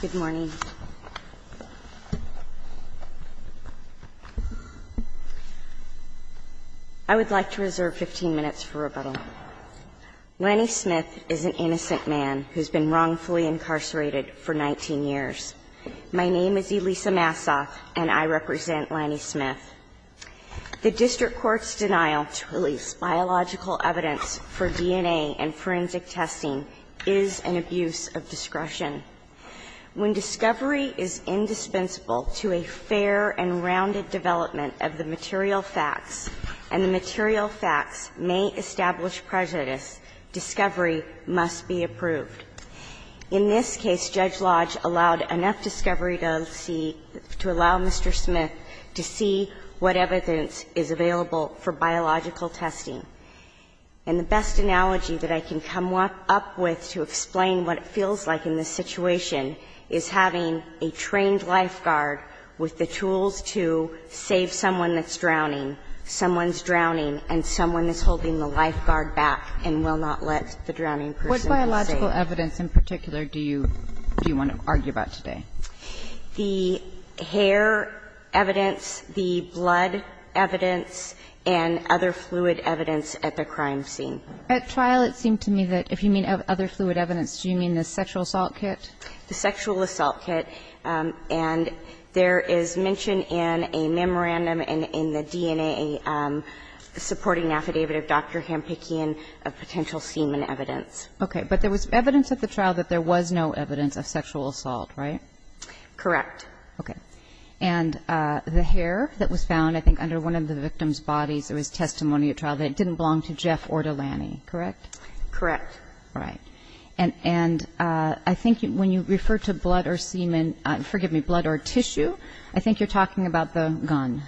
Good morning. I would like to reserve 15 minutes for rebuttal. Lanny Smith is an innocent man who's been wrongfully incarcerated for 19 years. My name is Elisa Massa and I represent Lanny Smith. The district court's denial to release biological evidence for DNA and forensic testing is an abuse of discretion. When discovery is indispensable to a fair and rounded development of the material facts, and the material facts may establish prejudice, discovery must be approved. In this case, Judge Lodge allowed enough discovery to see to allow Mr. Smith to see what evidence is available for biological testing. And the best analogy that I can come up with to explain what it feels like in this situation is having a trained lifeguard with the tools to save someone that's drowning, someone's drowning, and someone is holding the lifeguard back and will not let the drowning person be saved. What biological evidence in particular do you want to argue about today? The hair evidence, the blood evidence, and other fluid evidence at the crime scene. At trial, it seemed to me that if you mean other fluid evidence, do you mean the sexual assault kit? The sexual assault kit. And there is mention in a memorandum in the DNA supporting affidavit of Dr. Hampikian of potential semen evidence. Okay. But there was evidence at the trial that there was no evidence of sexual assault, right? Correct. Okay. And the hair that was found, I think, under one of the victim's bodies, it was testimony at trial that it didn't belong to Jeff or to Lanny, correct? Correct. All right. And I think when you refer to blood or semen – forgive me, blood or tissue, I think you're talking about the gun,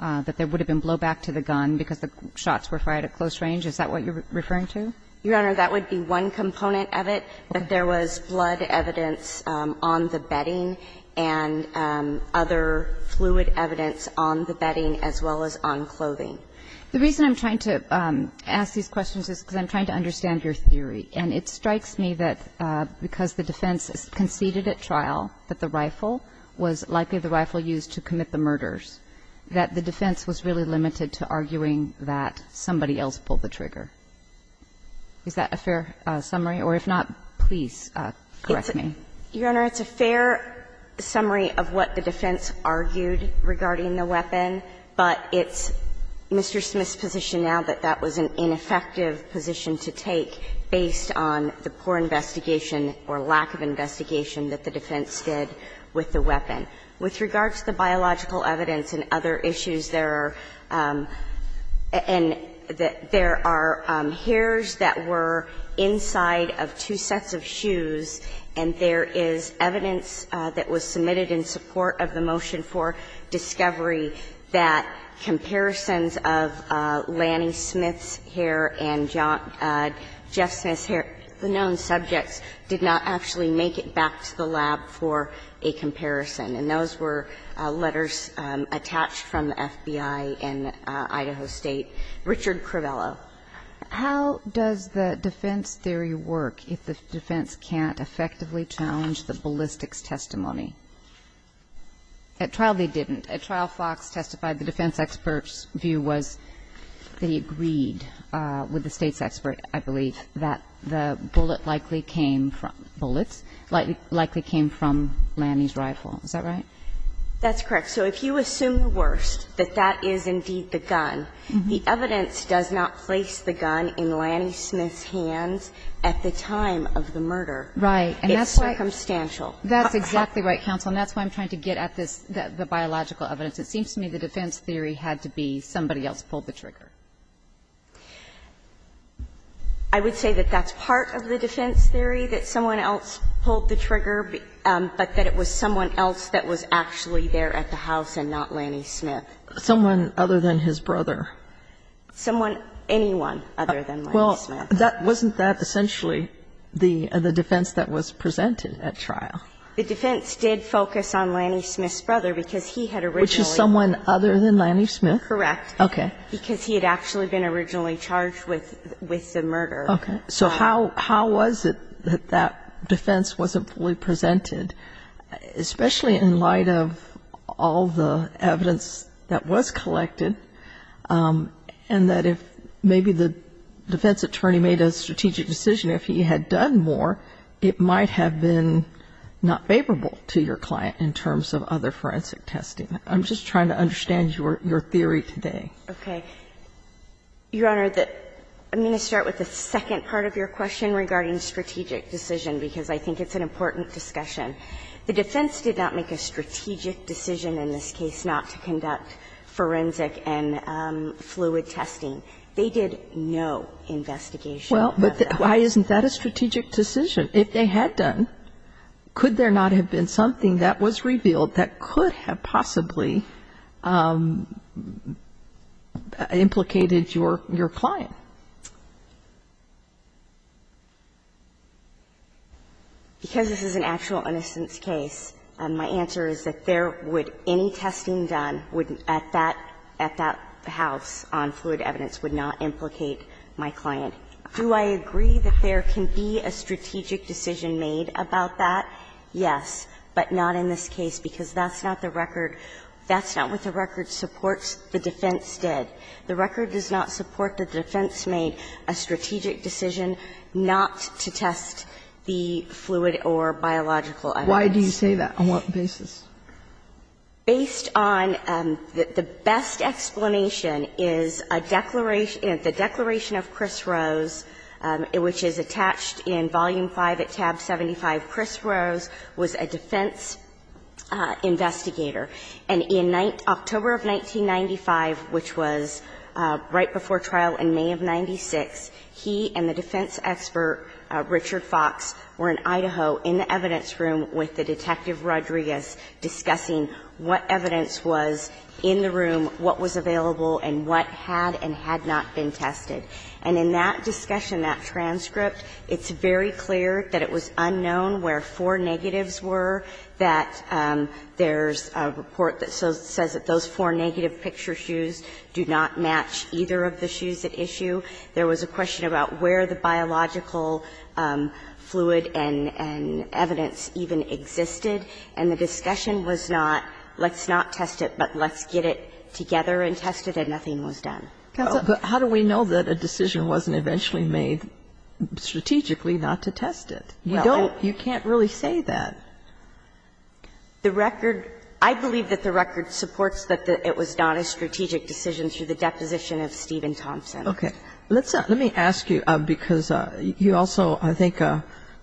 that there would have been blowback to the gun because the shots were fired at close range. Is that what you're referring to? Your Honor, that would be one component of it, but there was blood evidence on the bedding and other fluid evidence on the bedding as well as on clothing. The reason I'm trying to ask these questions is because I'm trying to understand your theory. And it strikes me that because the defense conceded at trial that the rifle was likely the rifle used to commit the murders, that the defense was really limited to arguing that somebody else pulled the trigger. Is that a fair summary? Or if not, please correct me. Your Honor, it's a fair summary of what the defense argued regarding the weapon, but it's Mr. Smith's position now that that was an ineffective position to take based on the poor investigation or lack of investigation that the defense did with the weapon. With regard to the biological evidence and other issues, there are – and there are hairs that were inside of two sets of shoes, and there is evidence that was submitted in support of the motion for discovery that comparisons of Lanny Smith's hair and Jeff Smith's hair, the known subjects, did not actually make it back to the lab for a comparison. And those were letters attached from the FBI in Idaho State. Richard Crivello. How does the defense theory work if the defense can't effectively challenge the ballistics testimony? At trial, they didn't. At trial, Fox testified the defense expert's view was they agreed with the State's expert, I believe, that the bullet likely came from – bullets? Likely came from Lanny's rifle. Is that right? That's correct. So if you assume the worst, that that is indeed the gun, the evidence does not place the gun in Lanny Smith's hands at the time of the murder. Right. And that's why – It's circumstantial. That's exactly right, Counsel. And that's why I'm trying to get at this, the biological evidence. It seems to me the defense theory had to be somebody else pulled the trigger. I would say that that's part of the defense theory, that someone else pulled the trigger, but that it was someone else that was actually there at the house and not Lanny Smith. Someone other than his brother? Someone – anyone other than Lanny Smith. Well, wasn't that essentially the defense that was presented at trial? The defense did focus on Lanny Smith's brother, because he had originally Which is someone other than Lanny Smith? Correct. Okay. Because he had actually been originally charged with the murder. Okay. So how was it that that defense wasn't fully presented, especially in light of all the evidence that was collected, and that if maybe the defense attorney made a strategic decision, if he had done more, it might have been not favorable to your client in terms of other forensic testing? I'm just trying to understand your theory today. Okay. Your Honor, I'm going to start with the second part of your question regarding strategic decision, because I think it's an important discussion. The defense did not make a strategic decision in this case not to conduct forensic and fluid testing. They did no investigation. Well, but why isn't that a strategic decision? If they had done, could there not have been something that was revealed that could have possibly implicated your client? Because this is an actual innocence case, my answer is that there would any testing done would at that house on fluid evidence would not implicate my client. Do I agree that there can be a strategic decision made about that? Yes, but not in this case, because that's not the record – that's not what the record supports the defense did. The record does not support that the defense made a strategic decision not to test the fluid or biological evidence. Why do you say that? On what basis? Based on the best explanation is a declaration – the Declaration of Cris Rose, which is attached in Volume 5 at tab 75. Cris Rose was a defense investigator. And in October of 1995, which was right before trial in May of 1996, he and the defense expert, Richard Fox, were in Idaho in the evidence room with the Detective Rodriguez discussing what evidence was in the room, what was available, and what had and had not been tested. And in that discussion, that transcript, it's very clear that it was unknown where four negatives were, that there's a report that says that those four negative picture shoes do not match either of the shoes at issue. There was a question about where the biological fluid and evidence even existed. And the discussion was not, let's not test it, but let's get it together and test it, and nothing was done. But how do we know that a decision wasn't eventually made strategically not to test it? You can't really say that. The record – I believe that the record supports that it was not a strategic decision through the deposition of Stephen Thompson. Okay. Let me ask you, because you also, I think,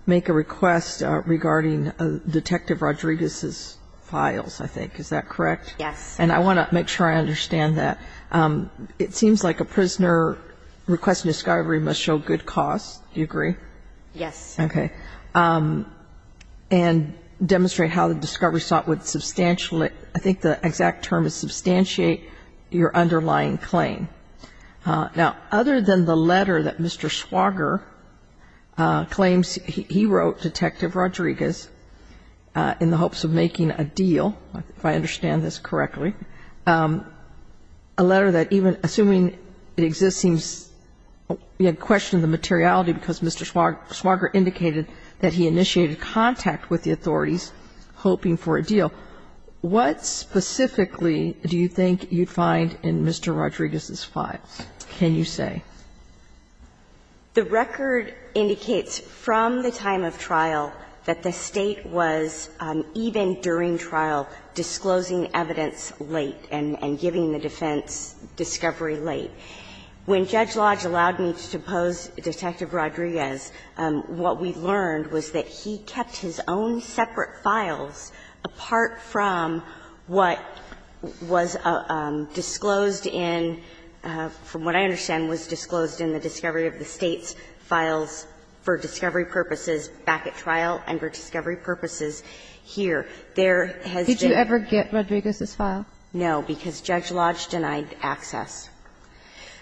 make a request regarding Detective Rodriguez's files, I think. Is that correct? Yes. And I want to make sure I understand that. It seems like a prisoner requesting discovery must show good cause. Do you agree? Yes. Okay. And demonstrate how the discovery sought would substantially – I think the exact term is substantiate your underlying claim. Now, other than the letter that Mr. Swager claims he wrote Detective Rodriguez in the hopes of making a deal, if I understand this correctly, a letter that even assuming it exists seems – we had questioned the materiality because Mr. Swager indicated that he initiated contact with the authorities hoping for a deal. What specifically do you think you'd find in Mr. Rodriguez's file, can you say? The record indicates from the time of trial that the State was, even during trial, disclosing evidence late and giving the defense discovery late. When Judge Lodge allowed me to pose Detective Rodriguez, what we learned was that he kept his own separate files apart from what was disclosed in – from what I understand was disclosed in the discovery of the State's files for discovery purposes back at trial and for discovery purposes here. There has been – Did you ever get Rodriguez's file? No, because Judge Lodge denied access.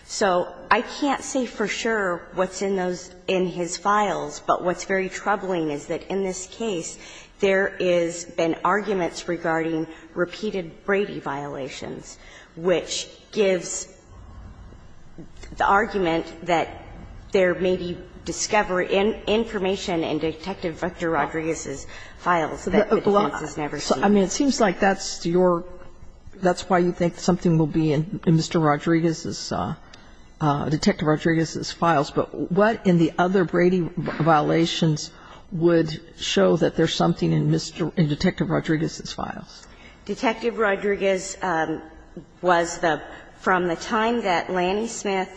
So I can't say for sure what's in those – in his files, but what's very troubling is that in this case there has been arguments regarding repeated Brady violations, which gives the argument that there may be discovery – information in Detective Victor Rodriguez's files that the defense has never seen. I mean, it seems like that's your – that's why you think something will be in Mr. Rodriguez's – Detective Rodriguez's files, but what in the other Brady violations would show that there's something in Mr. – in Detective Rodriguez's files? Detective Rodriguez was the – from the time that Lanny Smith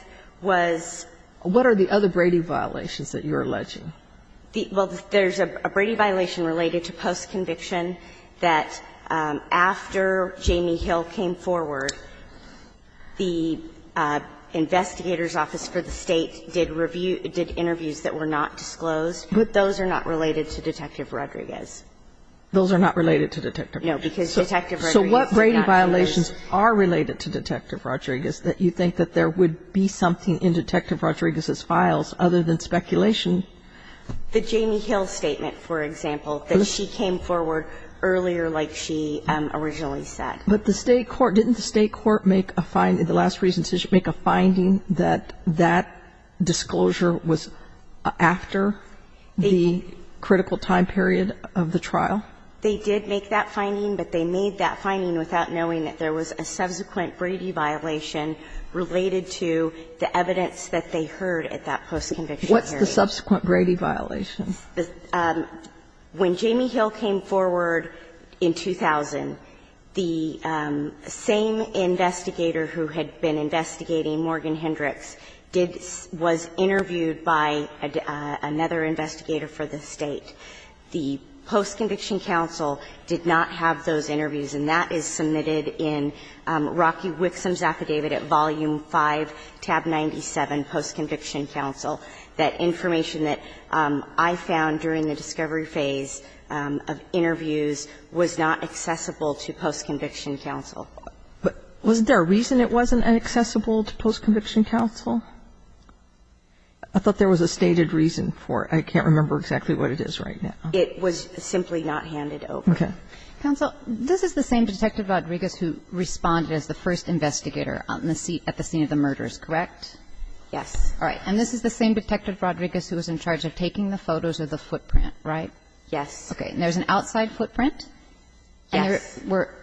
was – What are the other Brady violations that you're alleging? Well, there's a Brady violation related to post-conviction that after Jamie Hill came forward, the investigator's office for the State did review – did interviews that were not disclosed, but those are not related to Detective Rodriguez. Those are not related to Detective – No, because Detective Rodriguez did not do those. So what Brady violations are related to Detective Rodriguez that you think that there would be something in Detective Rodriguez's files other than speculation? The Jamie Hill statement, for example, that she came forward earlier like she originally said. But the State court – didn't the State court make a – the last recent decision make a finding that that disclosure was after the critical time period of the trial? They did make that finding, but they made that finding without knowing that there was a subsequent Brady violation related to the evidence that they heard at that post-conviction hearing. What's the subsequent Brady violation? When Jamie Hill came forward in 2000, the same investigator who had been investigating Morgan Hendricks did – was interviewed by another investigator for the State. The post-conviction counsel did not have those interviews, and that is submitted in Rocky Wixom's affidavit at volume 5, tab 97, post-conviction counsel, that information that I found during the discovery phase of interviews was not accessible to post-conviction counsel. But wasn't there a reason it wasn't accessible to post-conviction counsel? I thought there was a stated reason for it. I can't remember exactly what it is right now. It was simply not handed over. Okay. Counsel, this is the same Detective Rodriguez who responded as the first investigator on the scene – at the scene of the murders, correct? Yes. All right. And this is the same Detective Rodriguez who was in charge of taking the photos of the footprint, right? Yes. Okay. And there's an outside footprint? Yes.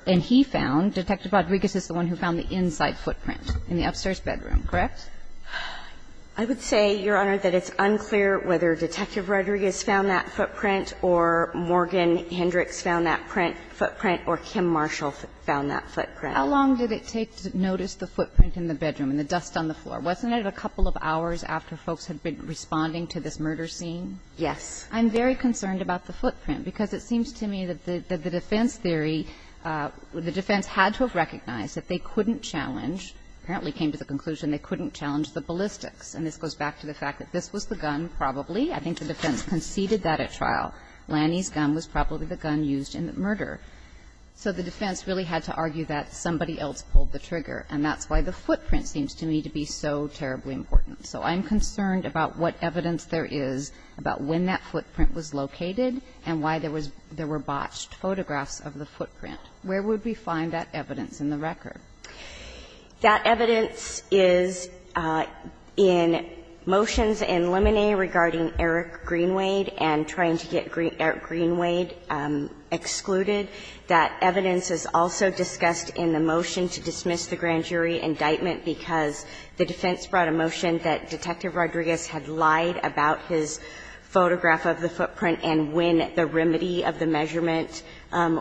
And he found – Detective Rodriguez is the one who found the inside footprint in the upstairs bedroom, correct? I would say, Your Honor, that it's unclear whether Detective Rodriguez found that footprint or Morgan Hendricks found that footprint or Kim Marshall found that footprint. How long did it take to notice the footprint in the bedroom and the dust on the floor? Wasn't it a couple of hours after folks had been responding to this murder scene? Yes. I'm very concerned about the footprint, because it seems to me that the defense theory, the defense had to have recognized that they couldn't challenge – apparently came to the conclusion they couldn't challenge the ballistics. And this goes back to the fact that this was the gun, probably. I think the defense conceded that at trial. Lanny's gun was probably the gun used in the murder. So the defense really had to argue that somebody else pulled the trigger. And that's why the footprint seems to me to be so terribly important. So I'm concerned about what evidence there is about when that footprint was located and why there was – there were botched photographs of the footprint. Where would we find that evidence in the record? That evidence is in motions in Lemonnier regarding Eric Greenwade and trying to get Eric Greenwade excluded. That evidence is also discussed in the motion to dismiss the grand jury indictment, because the defense brought a motion that Detective Rodriguez had lied about his photograph of the footprint and when the remedy of the measurement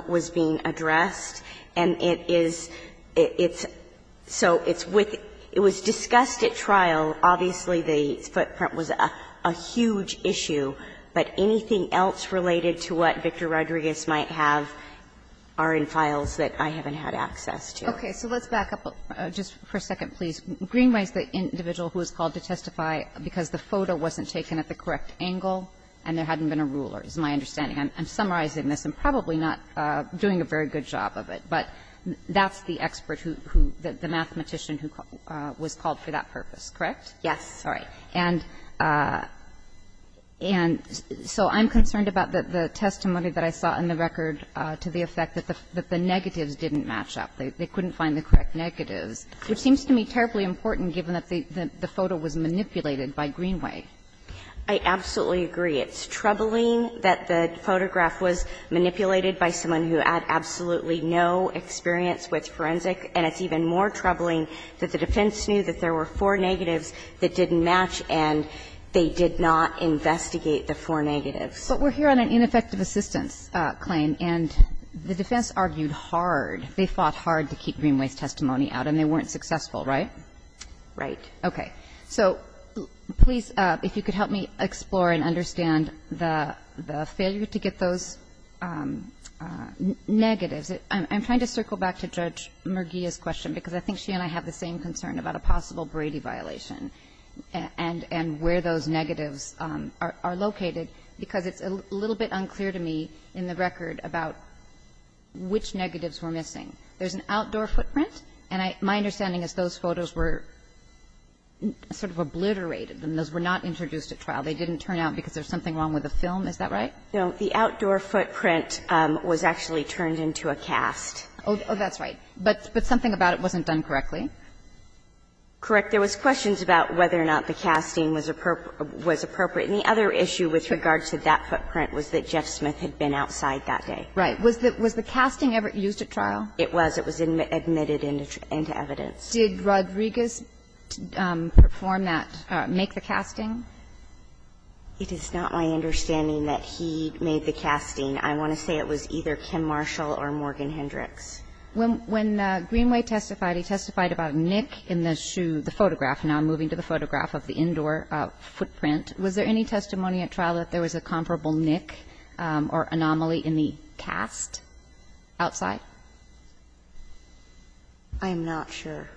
was being addressed. And it is – it's – so it's with – it was discussed at trial. Obviously, the footprint was a huge issue. But anything else related to what Victor Rodriguez might have are in files that I haven't had access to. Okay. So let's back up just for a second, please. Greenwade is the individual who was called to testify because the photo wasn't taken at the correct angle and there hadn't been a ruler, is my understanding. I'm summarizing this. I'm probably not doing a very good job of it. But that's the expert who – the mathematician who was called for that purpose, correct? Yes. All right. And so I'm concerned about the testimony that I saw in the record to the effect that the negatives didn't match up. They couldn't find the correct negatives, which seems to me terribly important given that the photo was manipulated by Greenwade. I absolutely agree. It's troubling that the photograph was manipulated by someone who had absolutely no experience with forensic, and it's even more troubling that the defense knew that there were four negatives that didn't match, and they did not investigate the four negatives. But we're here on an ineffective assistance claim, and the defense argued hard. They fought hard to keep Greenwade's testimony out, and they weren't successful, right? Right. Okay. So please, if you could help me explore and understand the failure to get those negatives. I'm trying to circle back to Judge Merguia's question, because I think she and I have the same concern about a possible Brady violation and where those negatives are located, because it's a little bit unclear to me in the record about which negatives were missing. There's an outdoor footprint, and my understanding is those photos were sort of obliterated, and those were not introduced at trial. They didn't turn out because there's something wrong with the film, is that right? No. The outdoor footprint was actually turned into a cast. Oh, that's right. But something about it wasn't done correctly. Correct. There was questions about whether or not the casting was appropriate. And the other issue with regard to that footprint was that Jeff Smith had been outside that day. Right. Was the casting ever used at trial? It was. It was admitted into evidence. Did Rodriguez perform that, make the casting? It is not my understanding that he made the casting. I want to say it was either Kim Marshall or Morgan Hendricks. When Greenway testified, he testified about a nick in the shoe, the photograph, and I'm moving to the photograph of the indoor footprint. Was there any testimony at trial that there was a comparable nick or anomaly in the cast outside? I'm not sure.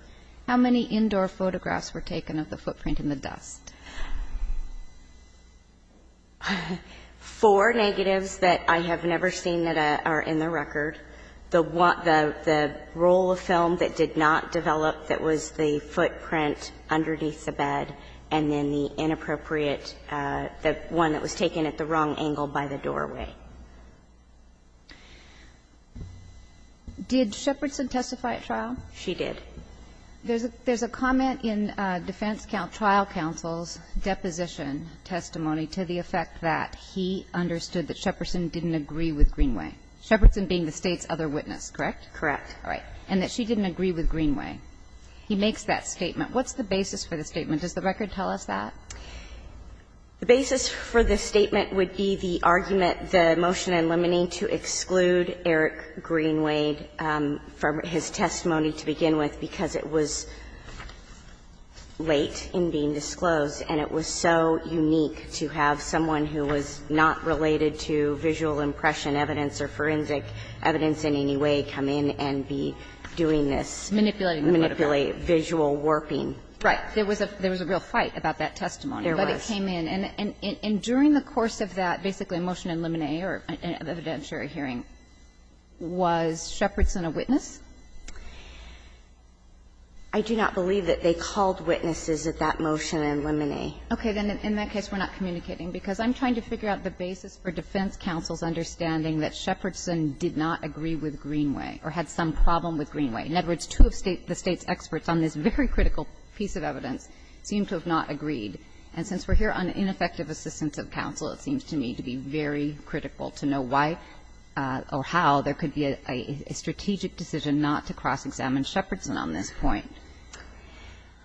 How many indoor photographs were taken of the footprint in the dust? Four negatives that I have never seen that are in the record. The roll of film that did not develop that was the footprint underneath the bed and then the inappropriate, the one that was taken at the wrong angle by the doorway. Did Shepardson testify at trial? She did. There's a comment in defense trial counsel's deposition testimony to the effect that he understood that Shepardson didn't agree with Greenway. Shepardson being the State's other witness, correct? Correct. All right. And that she didn't agree with Greenway. He makes that statement. What's the basis for the statement? The basis for the statement would be the argument that Greenway was not a witness to the motion in limine to exclude Eric Greenway from his testimony to begin with because it was late in being disclosed, and it was so unique to have someone who was not related to visual impression evidence or forensic evidence in any way come in and be doing this, manipulate visual warping. Right. There was a real fight about that testimony. There was. But it came in. And during the course of that, basically a motion in limine or an evidentiary hearing, was Shepardson a witness? I do not believe that they called witnesses at that motion in limine. Okay. Then in that case, we're not communicating, because I'm trying to figure out the basis for defense counsel's understanding that Shepardson did not agree with Greenway or had some problem with Greenway. In other words, two of the State's experts on this very critical piece of evidence seem to have not agreed. And since we're here on ineffective assistance of counsel, it seems to me to be very critical to know why or how there could be a strategic decision not to cross-examine Shepardson on this point.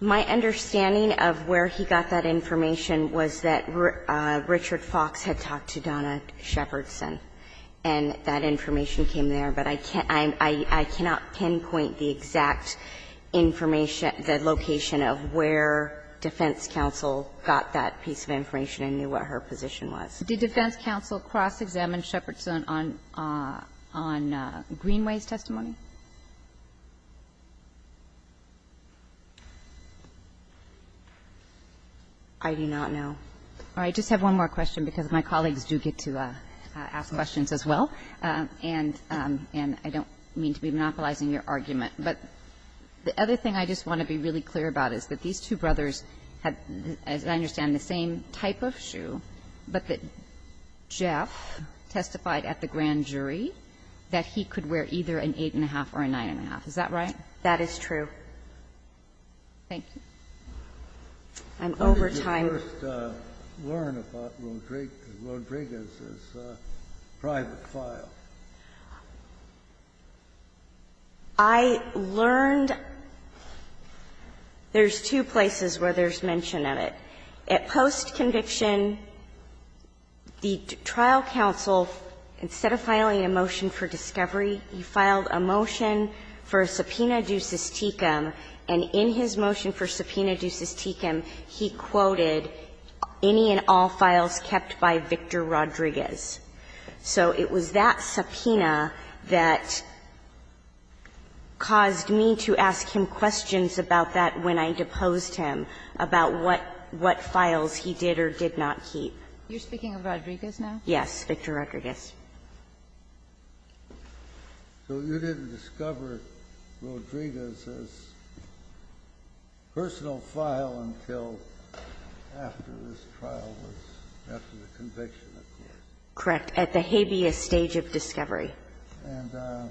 My understanding of where he got that information was that Richard Fox had talked to Donna Shepardson, and that information came there. But I cannot pinpoint the exact information, the location of where defense counsel got that piece of information and knew what her position was. Did defense counsel cross-examine Shepardson on Greenway's testimony? I do not know. All right. I just have one more question, because my colleagues do get to ask questions as well, and I don't mean to be monopolizing your argument. But the other thing I just want to be really clear about is that these two brothers had, as I understand, the same type of shoe, but that Jeff testified at the grand jury that he could wear either an 8-1⁄2 or a 9-1⁄2, is that right? That is true. Thank you. I'm over time. Kennedy, did you first learn about Rodriguez's private file? I learned — there's two places where there's mention of it. At post-conviction, the trial counsel, instead of filing a motion for discovery, he filed a motion for a subpoena ducis tecum, and in his motion for subpoena ducis tecum, he quoted any and all files kept by Victor Rodriguez. So it was that subpoena that caused me to ask him questions about that when I deposed him, about what files he did or did not keep. You're speaking of Rodriguez now? Yes, Victor Rodriguez. So you didn't discover Rodriguez's personal file until after this trial was — after the conviction, of course. Correct. At the habeas stage of discovery. And the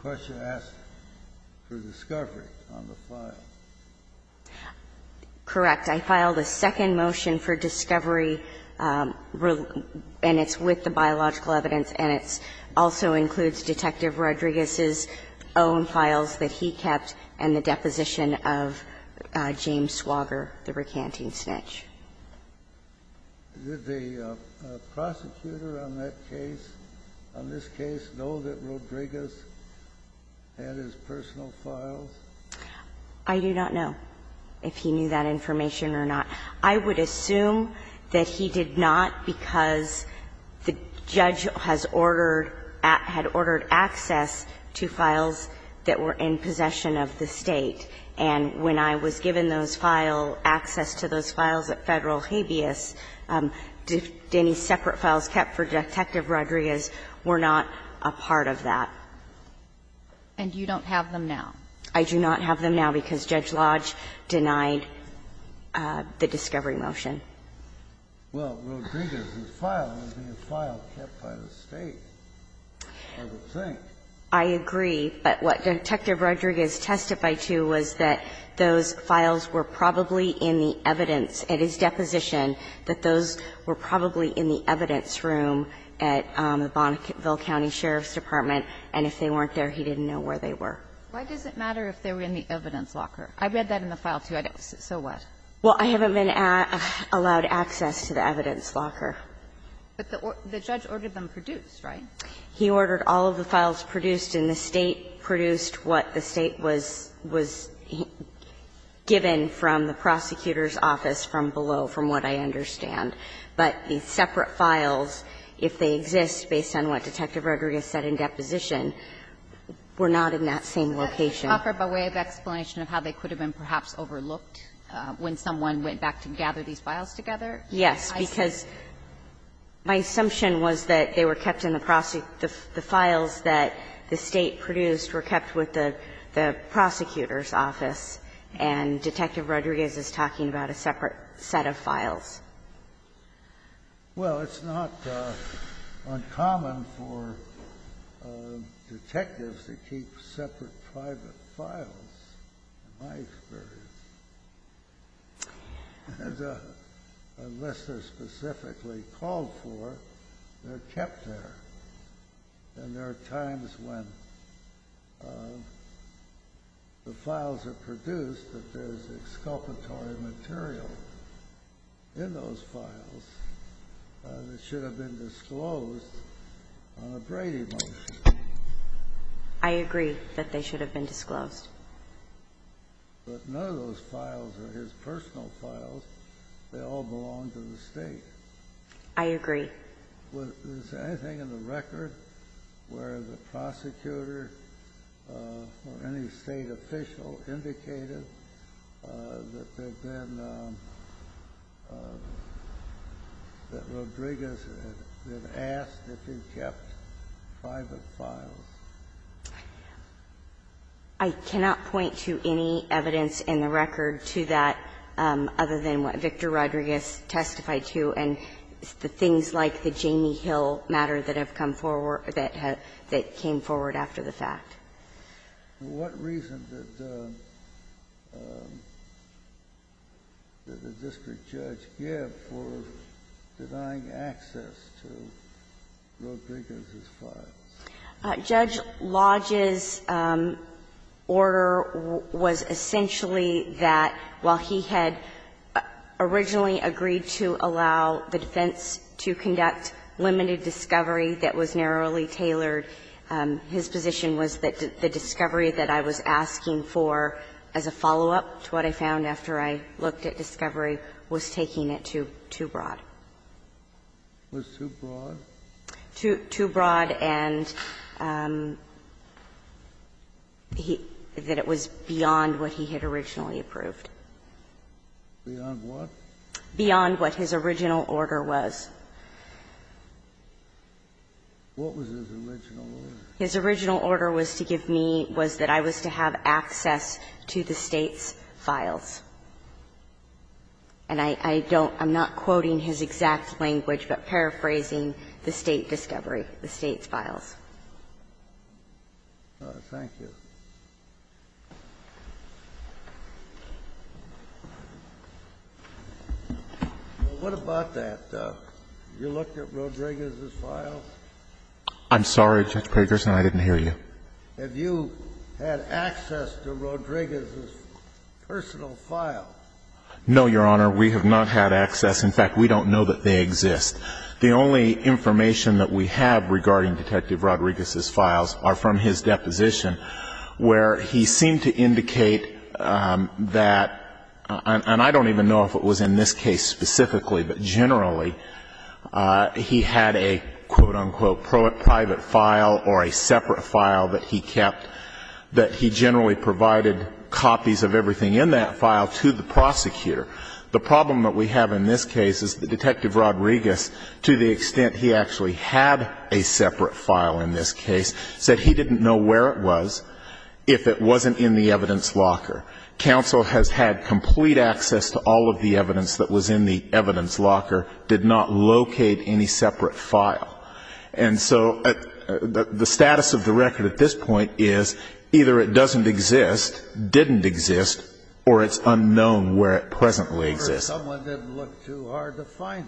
question asked for discovery on the file. Correct. I filed a second motion for discovery, and it's with the biological evidence, and it also includes Detective Rodriguez's own files that he kept and the deposition of James Swager, the recanting snitch. Did the prosecutor on that case, on this case, know that Rodriguez had his personal files? I do not know if he knew that information or not. I would assume that he did not because the judge has ordered — had ordered access to files that were in possession of the State. And when I was given those file — access to those files at Federal Habeas, any separate files kept for Detective Rodriguez were not a part of that. And you don't have them now? I do not have them now because Judge Lodge denied the discovery motion. Well, Rodriguez's file was in a file kept by the State, I would think. I agree, but what Detective Rodriguez testified to was that those files were probably in the evidence at his deposition, that those were probably in the evidence room at Bonneville County Sheriff's Department, and if they weren't there, he didn't know where they were. Why does it matter if they were in the evidence locker? I read that in the file, too. I don't — so what? Well, I haven't been allowed access to the evidence locker. But the judge ordered them produced, right? He ordered all of the files produced, and the State produced what the State was — was given from the prosecutor's office from below, from what I understand. But the separate files, if they exist based on what Detective Rodriguez said in deposition, were not in that same location. Can you offer a way of explanation of how they could have been perhaps overlooked when someone went back to gather these files together? Yes, because my assumption was that they were kept in the — the files that the State produced were kept with the prosecutor's office, and Detective Rodriguez is talking about a separate set of files. Well, it's not uncommon for detectives to keep separate private files. In my experience. Unless they're specifically called for, they're kept there. And there are times when the files are produced, that there's exculpatory material in those files that should have been disclosed on a Brady motion. I agree that they should have been disclosed. But none of those files are his personal files. They all belong to the State. I agree. Was there anything in the record where the prosecutor or any State official indicated that there had been — that Rodriguez had been asked if he'd kept private files? I cannot point to any evidence in the record to that other than what Victor Rodriguez testified to and the things like the Jamie Hill matter that have come forward that had — that came forward after the fact. What reason did the district judge give for denying access to Rodriguez's files? Judge Lodge's order was essentially that while he had originally agreed to allow the defense to conduct limited discovery that was narrowly tailored, his position was that the discovery that I was asking for as a follow-up to what I found after I looked at discovery was taking it too broad. Was too broad? Too broad, and that it was beyond what he had originally approved. Beyond what? Beyond what his original order was. What was his original order? His original order was to give me — was that I was to have access to the State's files, and I don't — I'm not quoting his exact language, but paraphrasing the State discovery, the State's files. Thank you. Well, what about that? You looked at Rodriguez's files? I'm sorry, Judge Peterson, I didn't hear you. Have you had access to Rodriguez's personal files? No, Your Honor. We have not had access. In fact, we don't know that they exist. The only information that we have regarding Detective Rodriguez's files are from his deposition where he seemed to indicate that — and I don't even know if it was in this case specifically, but generally — he had a, quote, unquote, private file or a separate file that he kept that he generally provided copies of everything in that file to the prosecutor. The problem that we have in this case is that Detective Rodriguez, to the extent he actually had a separate file in this case, said he didn't know where it was if it wasn't in the evidence locker. Counsel has had complete access to all of the evidence that was in the evidence locker, did not locate any separate file. And so the status of the record at this point is either it doesn't exist, didn't exist, or it's unknown where it pleasantly exists. Or someone didn't look too hard to find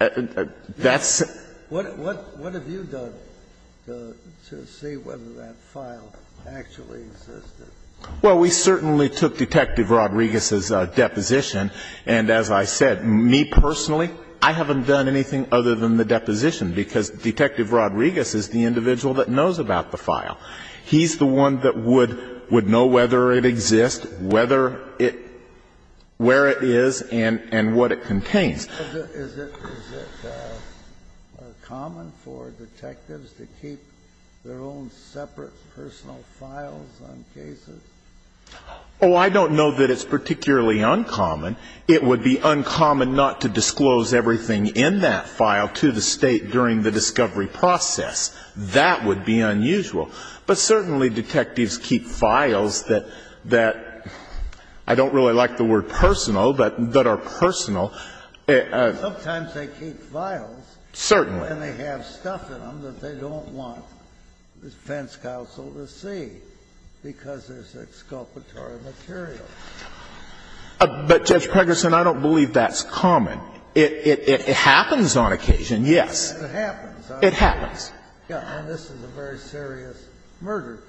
it. That's — What have you done to see whether that file actually existed? Well, we certainly took Detective Rodriguez's deposition. And as I said, me personally, I haven't done anything other than the deposition, because Detective Rodriguez is the individual that knows about the file. He's the one that would know whether it exists, whether it — where it is, and what it contains. Is it common for detectives to keep their own separate personal files on cases? Oh, I don't know that it's particularly uncommon. It would be uncommon not to disclose everything in that file to the State during the discovery process. That would be unusual. But certainly detectives keep files that — that I don't really like the word personal, but that are personal. Sometimes they keep files. Certainly. And they have stuff in them that they don't want the defense counsel to see, because it's exculpatory material. But, Judge Pregerson, I don't believe that's common. It happens on occasion, yes. It happens. It happens. And this is a very serious murder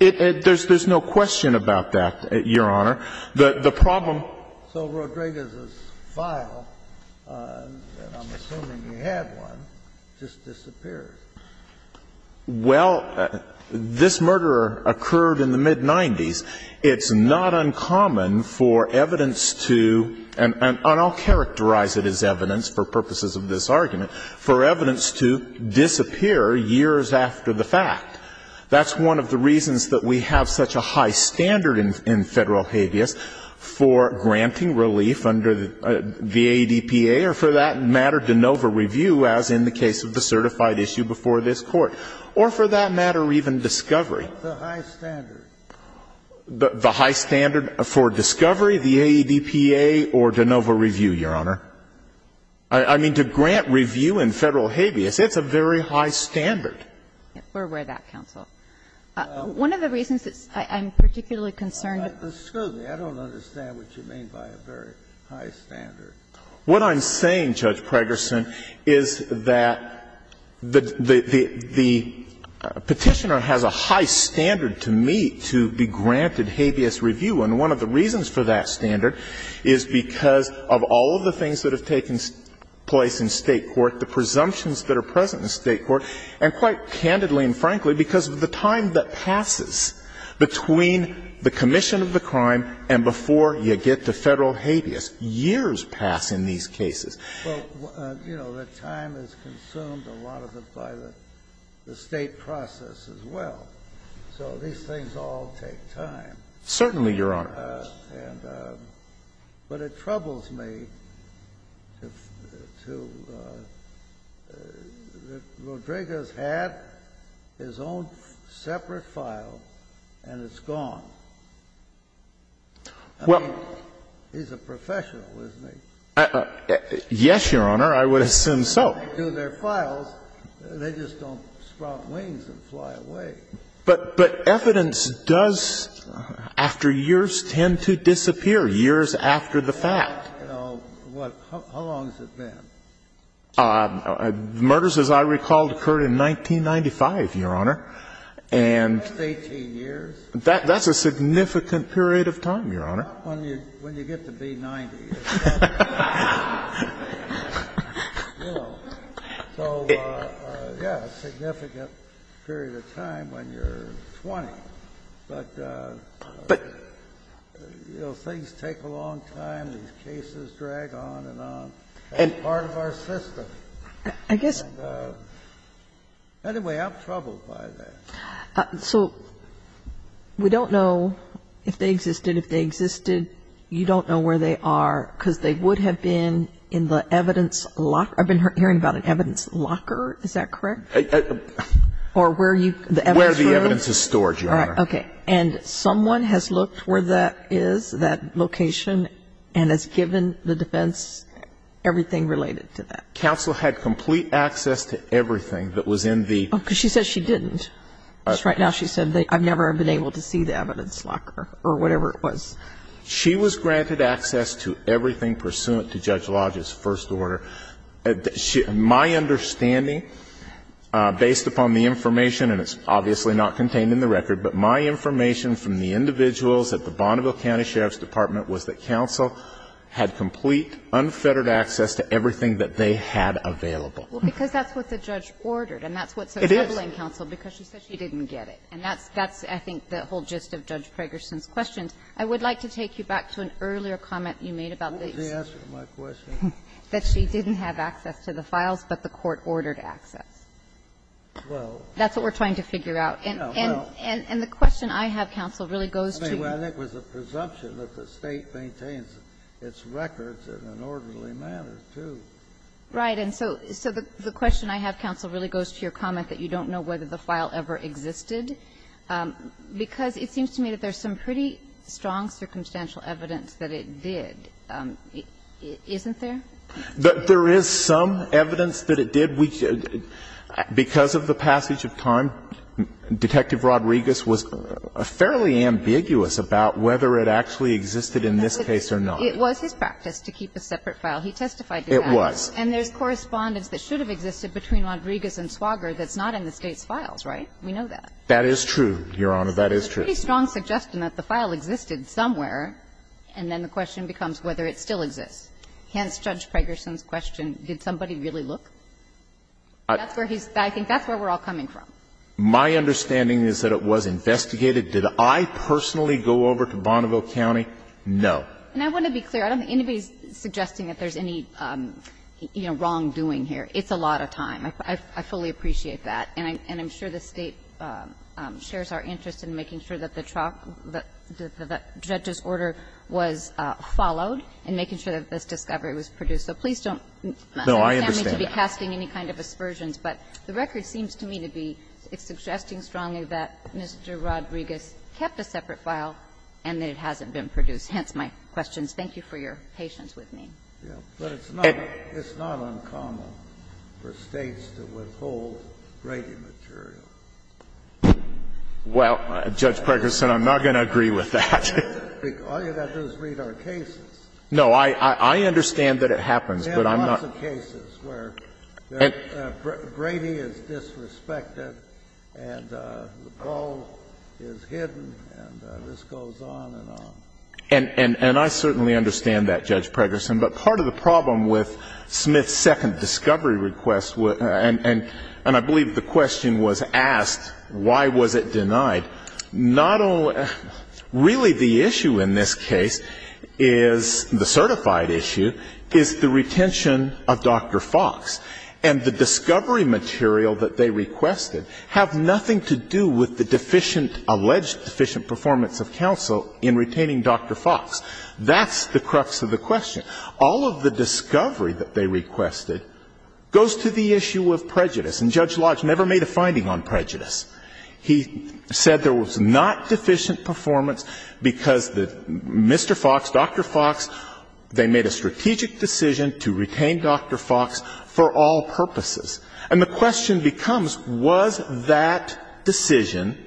case. There's no question about that, Your Honor. The problem — So Rodriguez's file, and I'm assuming you had one, just disappeared. Well, this murder occurred in the mid-'90s. It's not uncommon for evidence to — and I'll characterize it as evidence for purposes of this argument — for evidence to disappear years after the fact. That's one of the reasons that we have such a high standard in Federal habeas for granting relief under the AEDPA, or for that matter, de novo review, as in the case of the certified issue before this Court. Or for that matter, even discovery. The high standard. The high standard for discovery, the AEDPA, or de novo review, Your Honor. I mean, to grant review in Federal habeas, it's a very high standard. We're aware of that, counsel. One of the reasons that I'm particularly concerned — Excuse me. I don't understand what you mean by a very high standard. What I'm saying, Judge Pregerson, is that the Petitioner has a high standard to meet to be granted habeas review, and one of the reasons for that standard is because of all of the things that have taken place in State court, the presumptions that are present in State court, and, quite candidly and frankly, because of the time that passes between the commission of the crime and before you get to Federal habeas. Years pass in these cases. Well, you know, the time is consumed a lot of it by the State process as well. So these things all take time. Certainly, Your Honor. But it troubles me to — that Rodriguez had his own separate file and it's gone. I mean, he's a professional, isn't he? Yes, Your Honor, I would assume so. They do their files, they just don't sprout wings and fly away. But evidence does, after years, tend to disappear, years after the fact. How long has it been? Murders, as I recall, occurred in 1995, Your Honor. That's 18 years? That's a significant period of time, Your Honor. Not when you get to be 90. So, yes, a significant period of time when you're 20. But, you know, things take a long time. These cases drag on and on. That's part of our system. And, anyway, I'm troubled by that. So we don't know if they existed. If they existed, you don't know where they are, because they would have been in the evidence locker. I've been hearing about an evidence locker. Is that correct? Or where you — the evidence room? Where the evidence is stored, Your Honor. Okay. And someone has looked where that is, that location, and has given the defense everything related to that. Counsel had complete access to everything that was in the — Oh, because she says she didn't. Because right now she said, I've never been able to see the evidence locker, or whatever it was. She was granted access to everything pursuant to Judge Lodge's first order. My understanding, based upon the information, and it's obviously not contained in the record, but my information from the individuals at the Bonneville County Sheriff's Department was that counsel had complete, unfettered access to everything that they had available. Well, because that's what the judge ordered. And that's what's troubling counsel. Because she said she didn't get it. And that's — that's, I think, the whole gist of Judge Pragerson's questions. I would like to take you back to an earlier comment you made about the — What was the answer to my question? That she didn't have access to the files, but the court ordered access. Well — That's what we're trying to figure out. And — and — and the question I have, counsel, really goes to — I mean, I think it was a presumption that the State maintains its records in an orderly manner, too. Right. And so — so the question I have, counsel, really goes to your comment that you don't know whether the file ever existed. Because it seems to me that there's some pretty strong circumstantial evidence that it did. Isn't there? There is some evidence that it did. Because of the passage of time, Detective Rodriguez was fairly ambiguous about whether it actually existed in this case or not. It was his practice to keep a separate file. He testified to that. It was. And there's correspondence that should have existed between Rodriguez and Swager that's not in the State's files, right? We know that. That is true, Your Honor. That is true. There's a pretty strong suggestion that the file existed somewhere, and then the question becomes whether it still exists. Hence Judge Pregerson's question, did somebody really look? That's where he's — I think that's where we're all coming from. My understanding is that it was investigated. Did I personally go over to Bonneville County? No. And I want to be clear. I don't think anybody's suggesting that there's any, you know, wrongdoing here. It's a lot of time. I fully appreciate that. And I'm sure the State shares our interest in making sure that the trial — that the judge's order was followed, and making sure that this discovery was produced. So please don't ask me to be casting any kind of aspersions. But the record seems to me to be suggesting strongly that Mr. Rodriguez kept a separate file and that it hasn't been produced. Hence my questions. Thank you for your patience with me. But it's not uncommon for States to withhold Brady material. Well, Judge Pregerson, I'm not going to agree with that. All you've got to do is read our cases. No. I understand that it happens, but I'm not. We have lots of cases where Brady is disrespected and the ball is hidden and this goes on and on. And I certainly understand that, Judge Pregerson. But part of the problem with Smith's second discovery request, and I believe the question was asked, why was it denied, not only — really the issue in this case is — the certified issue is the retention of Dr. Fox. And the discovery material that they requested have nothing to do with the deficient — alleged deficient performance of counsel in retaining Dr. Fox. That's the crux of the question. All of the discovery that they requested goes to the issue of prejudice. And Judge Lodge never made a finding on prejudice. He said there was not deficient performance because Mr. Fox, Dr. Fox, they made a strategic decision to retain Dr. Fox for all purposes. And the question becomes, was that decision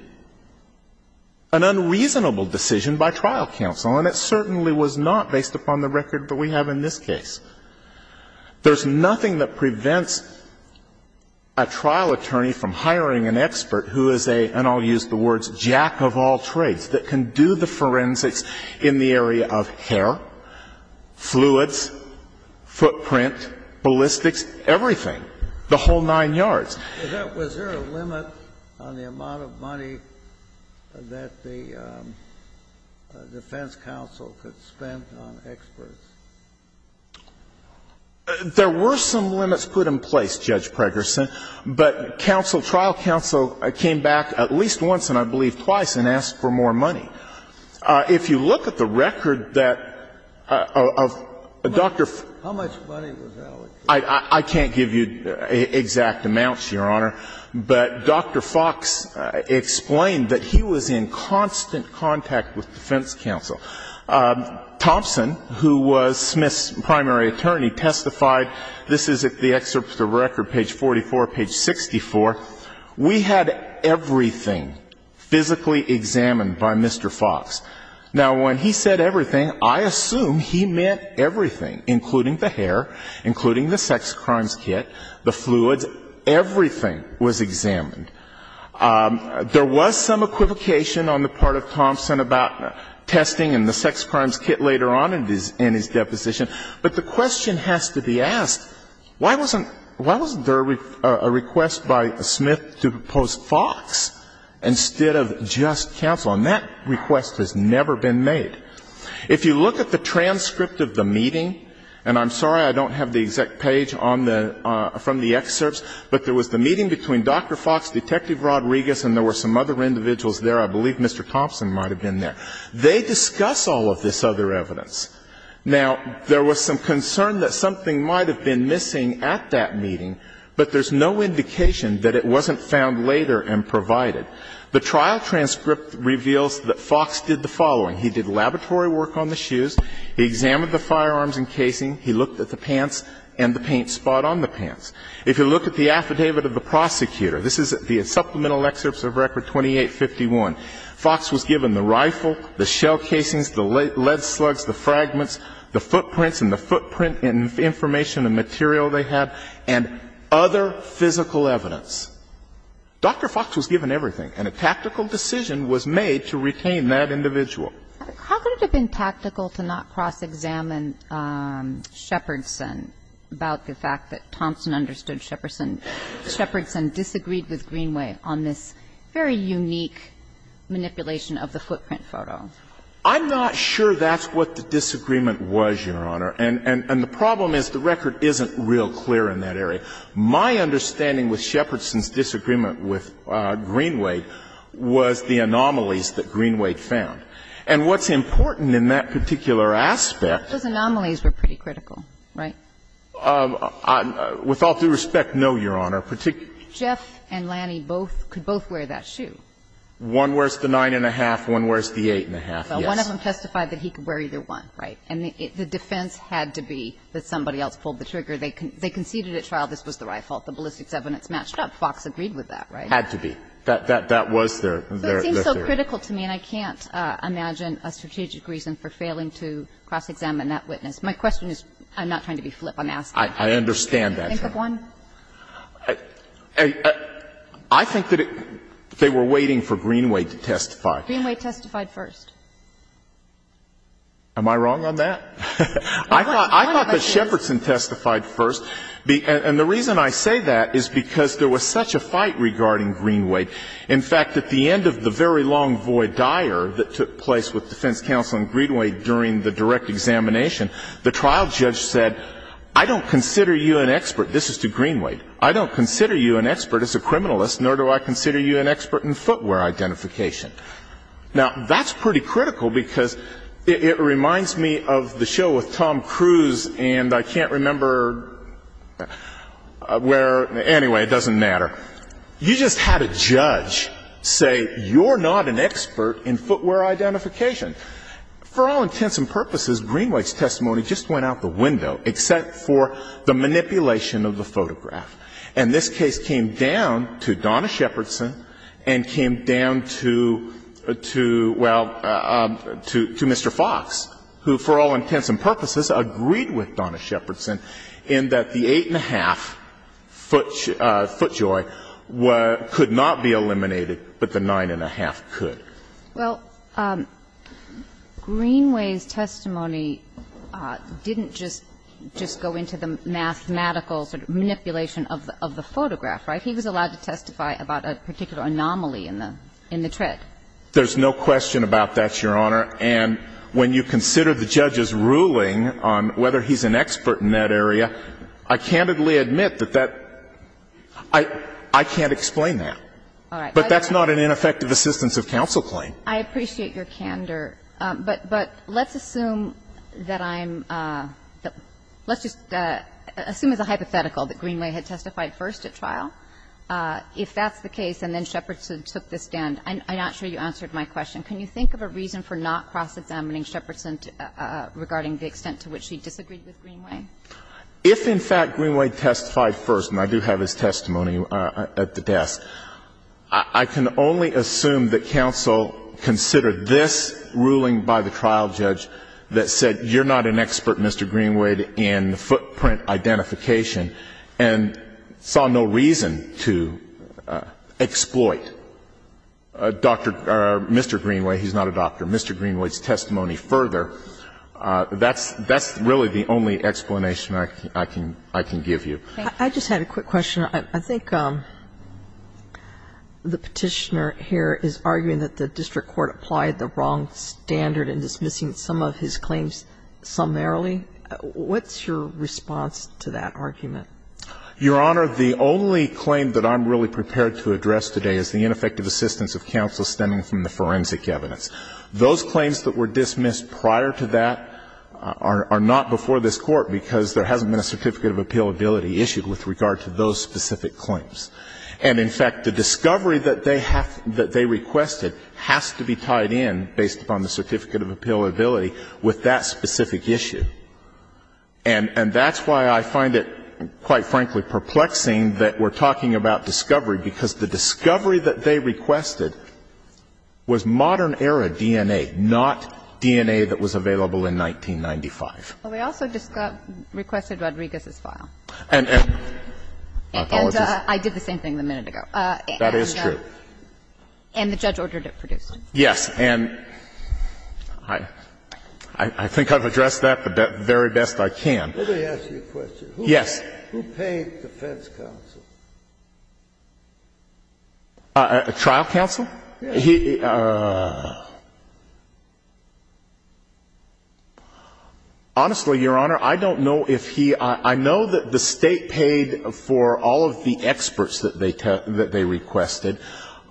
an unreasonable decision by trial counsel? And it certainly was not based upon the record that we have in this case. There's nothing that prevents a trial attorney from hiring an expert who is a — and I'll use the words — jack of all trades, that can do the forensics in the area of hair, fluids, footprint, ballistics, everything. The whole nine yards. Was there a limit on the amount of money that the defense counsel could spend on experts? There were some limits put in place, Judge Pregerson. But counsel — trial counsel came back at least once, and I believe twice, and asked for more money. If you look at the record that — of Dr. — How much money was allocated? I can't give you exact amounts, Your Honor. But Dr. Fox explained that he was in constant contact with defense counsel. Thompson, who was Smith's primary attorney, testified — this is the excerpt of the record, page 44, page 64. We had everything physically examined by Mr. Fox. Now, when he said everything, I assume he meant everything, including the hair, including the sex crimes kit, the fluids, everything was examined. There was some equivocation on the part of Thompson about testing and the sex crimes kit later on in his deposition. But the question has to be asked, why wasn't there a request by Smith to propose Fox instead of just counsel? And that request has never been made. If you look at the transcript of the meeting — and I'm sorry I don't have the exact page on the — from the excerpts, but there was the meeting between Dr. Fox, Detective Rodriguez, and there were some other individuals there. I believe Mr. Thompson might have been there. They discuss all of this other evidence. Now, there was some concern that something might have been missing at that meeting, but there's no indication that it wasn't found later and provided. The trial transcript reveals that Fox did the following. He did laboratory work on the shoes. He examined the firearms and casing. He looked at the pants and the paint spot on the pants. If you look at the affidavit of the prosecutor, this is the supplemental excerpts of Record 2851, Fox was given the rifle, the shell casings, the lead slugs, the fragments, the footprints and the footprint information and material they had, and other physical evidence. Dr. Fox was given everything, and a tactical decision was made to retain that individual. How could it have been tactical to not cross-examine Shepardson about the fact that Thompson understood Shepardson disagreed with Greenway on this very unique manipulation of the footprint photo? I'm not sure that's what the disagreement was, Your Honor. And the problem is the record isn't real clear in that area. My understanding with Shepardson's disagreement with Greenway was the anomalies that Greenway found. And what's important in that particular aspect. Those anomalies were pretty critical, right? With all due respect, no, Your Honor. Jeff and Lanny both could both wear that shoe. One wears the 9-1-1, one wears the 8-1-1, yes. Well, one of them testified that he could wear either one, right? And the defense had to be that somebody else pulled the trigger. They conceded at trial this was the rifle. The ballistics evidence matched up. Fox agreed with that, right? Had to be. That was their theory. But it seems so critical to me, and I can't imagine a strategic reason for failing to cross-examine that witness. My question is, I'm not trying to be flip, I'm asking. I understand that. Think of one. I think that they were waiting for Greenway to testify. Greenway testified first. Am I wrong on that? I thought that Shepardson testified first. And the reason I say that is because there was such a fight regarding Greenway. In fact, at the end of the very long void dire that took place with defense counsel and Greenway during the direct examination, the trial judge said, I don't consider you an expert. This is to Greenway. I don't consider you an expert as a criminalist, nor do I consider you an expert in footwear identification. Now, that's pretty critical because it reminds me of the show with Tom Cruise and I can't remember where, anyway, it doesn't matter. You just had a judge say, you're not an expert in footwear identification. For all intents and purposes, Greenway's testimony just went out the window, except for the manipulation of the photograph. And this case came down to Donna Shepardson and came down to, well, to Mr. Fox, who for all intents and purposes agreed with Donna Shepardson in that the eight-and-a-half foot joy could not be eliminated, but the nine-and-a-half could. Well, Greenway's testimony didn't just go into the mathematical sort of manipulation of the photograph, right? He was allowed to testify about a particular anomaly in the tread. There's no question about that, Your Honor. And when you consider the judge's ruling on whether he's an expert in that area, I candidly admit that that – I can't explain that. But that's not an ineffective assistance of counsel claim. I appreciate your candor. But let's assume that I'm – let's just assume as a hypothetical that Greenway had testified first at trial. If that's the case and then Shepardson took the stand, I'm not sure you answered my question. Can you think of a reason for not cross-examining Shepardson regarding the extent to which he disagreed with Greenway? If, in fact, Greenway testified first, and I do have his testimony at the desk, I can only assume that counsel considered this ruling by the trial judge that said you're not an expert, Mr. Greenway, in footprint identification and saw no reason to exploit Dr. – or Mr. Greenway, he's not a doctor, Mr. Greenway's testimony further. That's really the only explanation I can give you. I just had a quick question. I think the petitioner here is arguing that the district court applied the wrong standard in dismissing some of his claims summarily. What's your response to that argument? Your Honor, the only claim that I'm really prepared to address today is the ineffective assistance of counsel stemming from the forensic evidence. Those claims that were dismissed prior to that are not before this Court because there hasn't been a certificate of appealability issued with regard to those specific claims. And, in fact, the discovery that they have – that they requested has to be tied in, based upon the certificate of appealability, with that specific issue. And that's why I find it, quite frankly, perplexing that we're talking about discovery, because the discovery that they requested was modern-era DNA, not DNA that was available in 1995. Well, we also just got – requested Rodriguez's file. And – and I apologize. And I did the same thing a minute ago. That is true. And the judge ordered it produced. Yes. And I think I've addressed that the very best I can. Let me ask you a question. Yes. Who paid defense counsel? Trial counsel? Yes. Honestly, Your Honor, I don't know if he – I know that the State paid for all of the experts that they requested.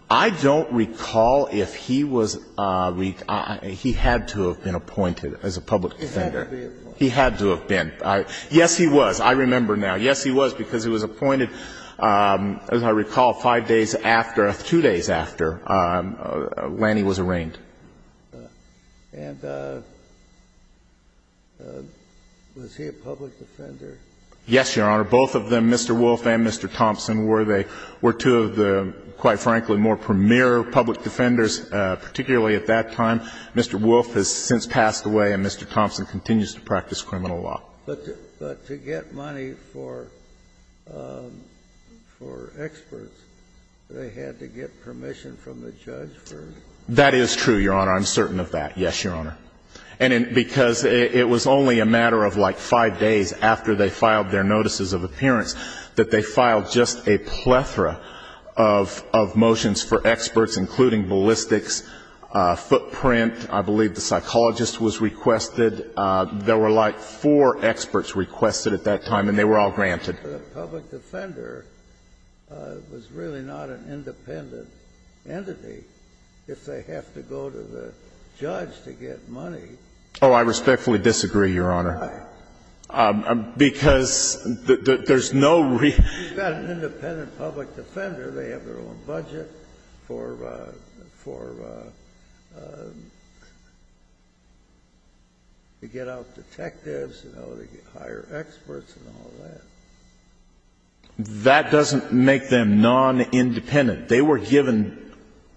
I don't recall if he was – he had to have been appointed as a public defender. He had to be appointed. He had to have been. Yes, he was. I remember now. Yes, he was, because he was appointed, as I recall, five days after – two days after Lanny was arraigned. And was he a public defender? Yes, Your Honor. Both of them, Mr. Wolf and Mr. Thompson, were they – were two of the, quite frankly, more premier public defenders, particularly at that time. Mr. Wolf has since passed away, and Mr. Thompson continues to practice criminal law. But to get money for experts, they had to get permission from the judge for them. That is true, Your Honor. I'm certain of that. Yes, Your Honor. And because it was only a matter of like five days after they filed their notices of appearance that they filed just a plethora of motions for experts, including ballistics, footprint. I believe the psychologist was requested. There were like four experts requested at that time, and they were all granted. The public defender was really not an independent entity. If they have to go to the judge to get money. Oh, I respectfully disagree, Your Honor. Why? Because there's no real – He's got an independent public defender. They have their own budget for – for to get out detectives, you know, to get higher experts and all that. That doesn't make them non-independent. They were given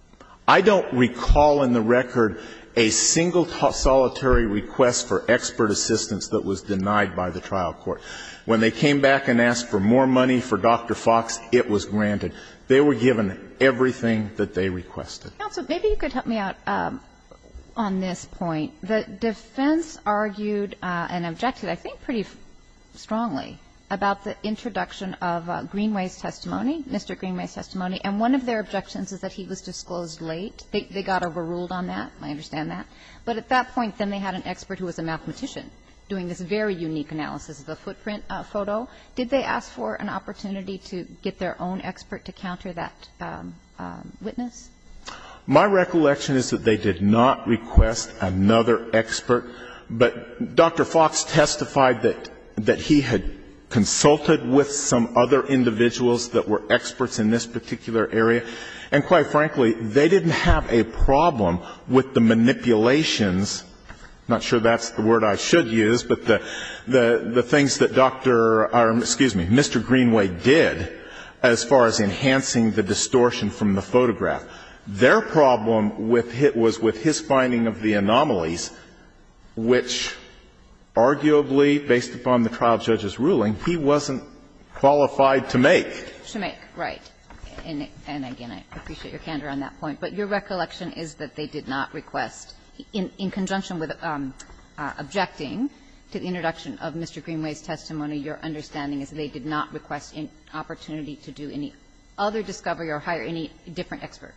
– I don't recall in the record a single solitary request for expert assistance that was denied by the trial court. When they came back and asked for more money for Dr. Fox, it was granted. They were given everything that they requested. Counsel, maybe you could help me out on this point. The defense argued and objected, I think pretty strongly, about the introduction of Greenway's testimony, Mr. Greenway's testimony. And one of their objections is that he was disclosed late. They got overruled on that. I understand that. But at that point, then they had an expert who was a mathematician doing this very unique analysis of the footprint photo. Did they ask for an opportunity to get their own expert to counter that witness? My recollection is that they did not request another expert. But Dr. Fox testified that – that he had consulted with some other individuals that were experts in this particular area. And quite frankly, they didn't have a problem with the manipulations – I'm not sure that's the word I should use – but the things that Dr. – excuse me, Mr. Greenway did as far as enhancing the distortion from the photograph. Their problem was with his finding of the anomalies, which arguably, based upon the trial judge's ruling, he wasn't qualified to make. To make, right. And again, I appreciate your candor on that point. But your recollection is that they did not request, in conjunction with objecting to the introduction of Mr. Greenway's testimony, your understanding is that they did not request an opportunity to do any other discovery or hire any different expert.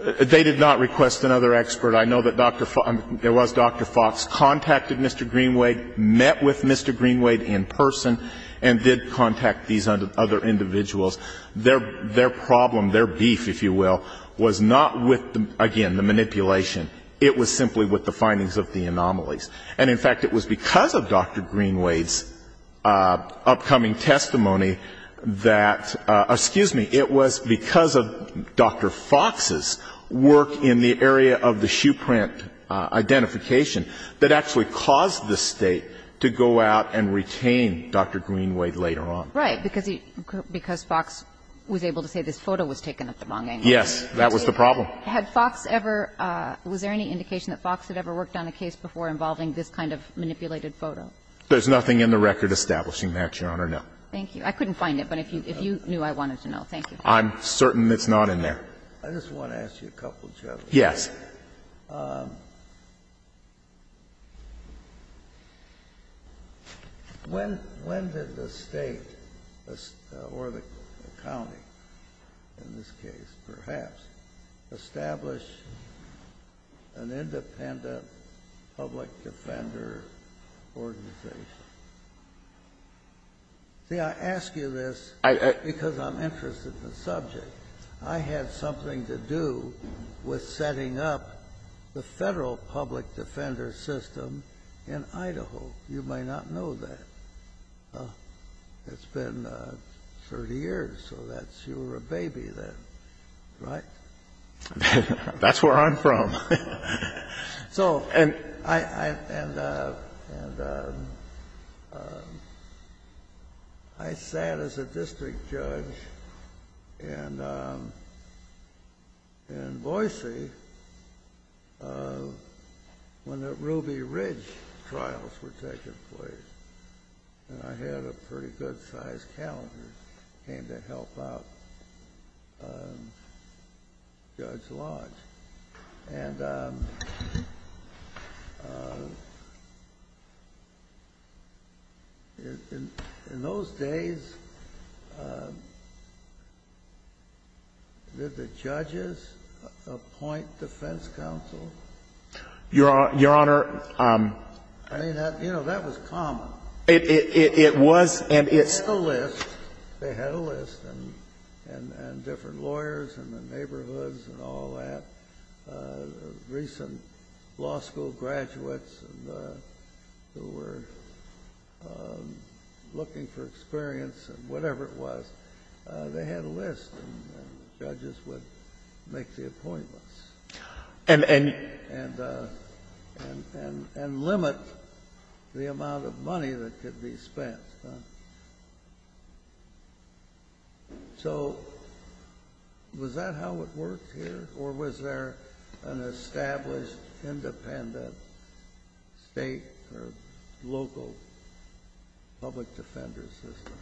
They did not request another expert. I know that Dr. – there was Dr. Fox contacted Mr. Greenway, met with Mr. Greenway in person, and did contact these other individuals. Their problem, their beef, if you will, was not with, again, the manipulation. It was simply with the findings of the anomalies. And in fact, it was because of Dr. Greenway's upcoming testimony that – excuse me – it was because of Dr. Fox's work in the area of the shoe print identification that actually caused the State to go out and retain Dr. Greenway later on. Right. Because he – because Fox was able to say this photo was taken at the wrong angle. Yes. That was the problem. Had Fox ever – was there any indication that Fox had ever worked on a case before involving this kind of manipulated photo? There's nothing in the record establishing that, Your Honor, no. Thank you. I couldn't find it, but if you knew, I wanted to know. Thank you. I'm certain it's not in there. I just want to ask you a couple of questions. Yes. When did the State, or the county in this case, perhaps, establish an independent public defender organization? See, I ask you this because I'm interested in the subject. I had something to do with setting up the Federal public defender system in Idaho. You may not know that. It's been 30 years, so that's – you were a baby then, right? That's where I'm from. So, and I sat as a district judge in Boise when the Ruby Ridge trials were taking place, and I had a pretty good-sized calendar that came to help out Judge Lodge. And in those days, did the judges appoint defense counsel? Your Honor, I mean, you know, that was common. It was, and it's – They had a list. And different lawyers in the neighborhoods and all that. Recent law school graduates who were looking for experience and whatever it was, they had a list, and judges would make the appointments. And limit the amount of money that could be spent. So, was that how it worked here, or was there an established, independent State or local public defender system?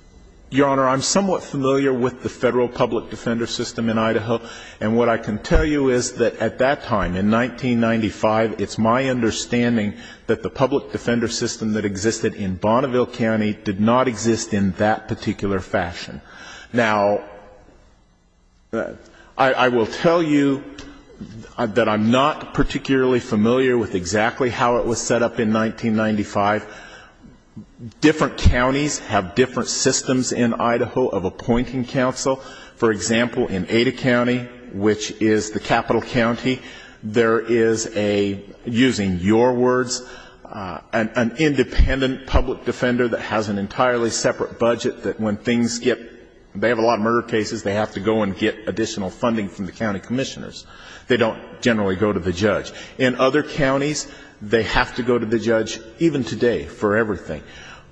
Your Honor, I'm somewhat familiar with the Federal public defender system in Idaho. And what I can tell you is that at that time, in 1995, it's my understanding that the public defender system that existed in Bonneville County did not exist in that particular fashion. Now, I will tell you that I'm not particularly familiar with exactly how it was set up in 1995. Different counties have different systems in Idaho of appointing counsel. For example, in Ada County, which is the capital county, there is a, using your words, an independent public defender that has an entirely separate budget that when things get – they have a lot of murder cases, they have to go and get additional funding from the county commissioners. They don't generally go to the judge. In other counties, they have to go to the judge, even today, for everything.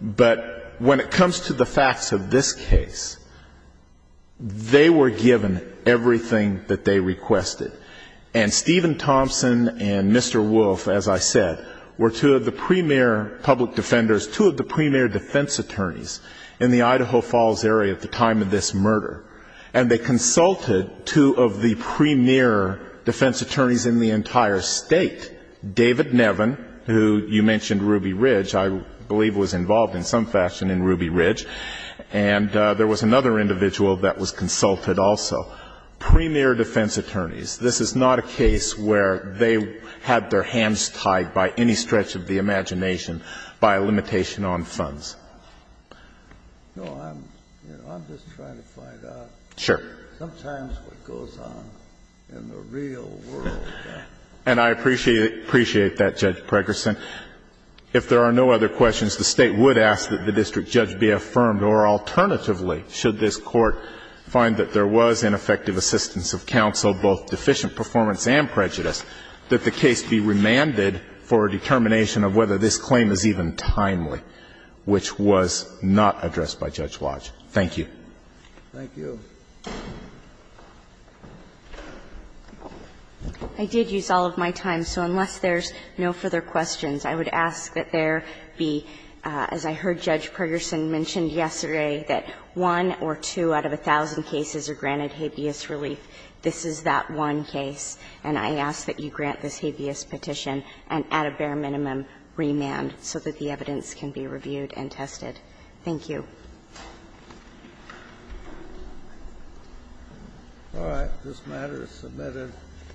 But when it comes to the facts of this case, they were given everything that they requested. And Stephen Thompson and Mr. Wolf, as I said, were two of the premier public defenders, two of the premier defense attorneys in the Idaho Falls area at the time of this murder. And they consulted two of the premier defense attorneys in the entire state. David Nevin, who you mentioned, Ruby Ridge, I believe was involved in some fashion in Ruby Ridge. And there was another individual that was consulted also. Premier defense attorneys. This is not a case where they had their hands tied by any stretch of the imagination by a limitation on funds. No, I'm, you know, I'm just trying to find out. Sure. Sometimes what goes on in the real world. And I appreciate that, Judge Pregerson. If there are no other questions, the State would ask that the district judge be affirmed. Or alternatively, should this Court find that there was ineffective assistance of counsel, both deficient performance and prejudice, that the case be remanded for a determination of whether this claim is even timely, which was not addressed by Judge Lodge. Thank you. Thank you. I did use all of my time. So unless there's no further questions, I would ask that there be, as I heard Judge Pregerson mention yesterday, that one or two out of a thousand cases are granted habeas relief. This is that one case. And I ask that you grant this habeas petition and at a bare minimum remand so that the evidence can be reviewed and tested. Thank you. All right. This matter is submitted.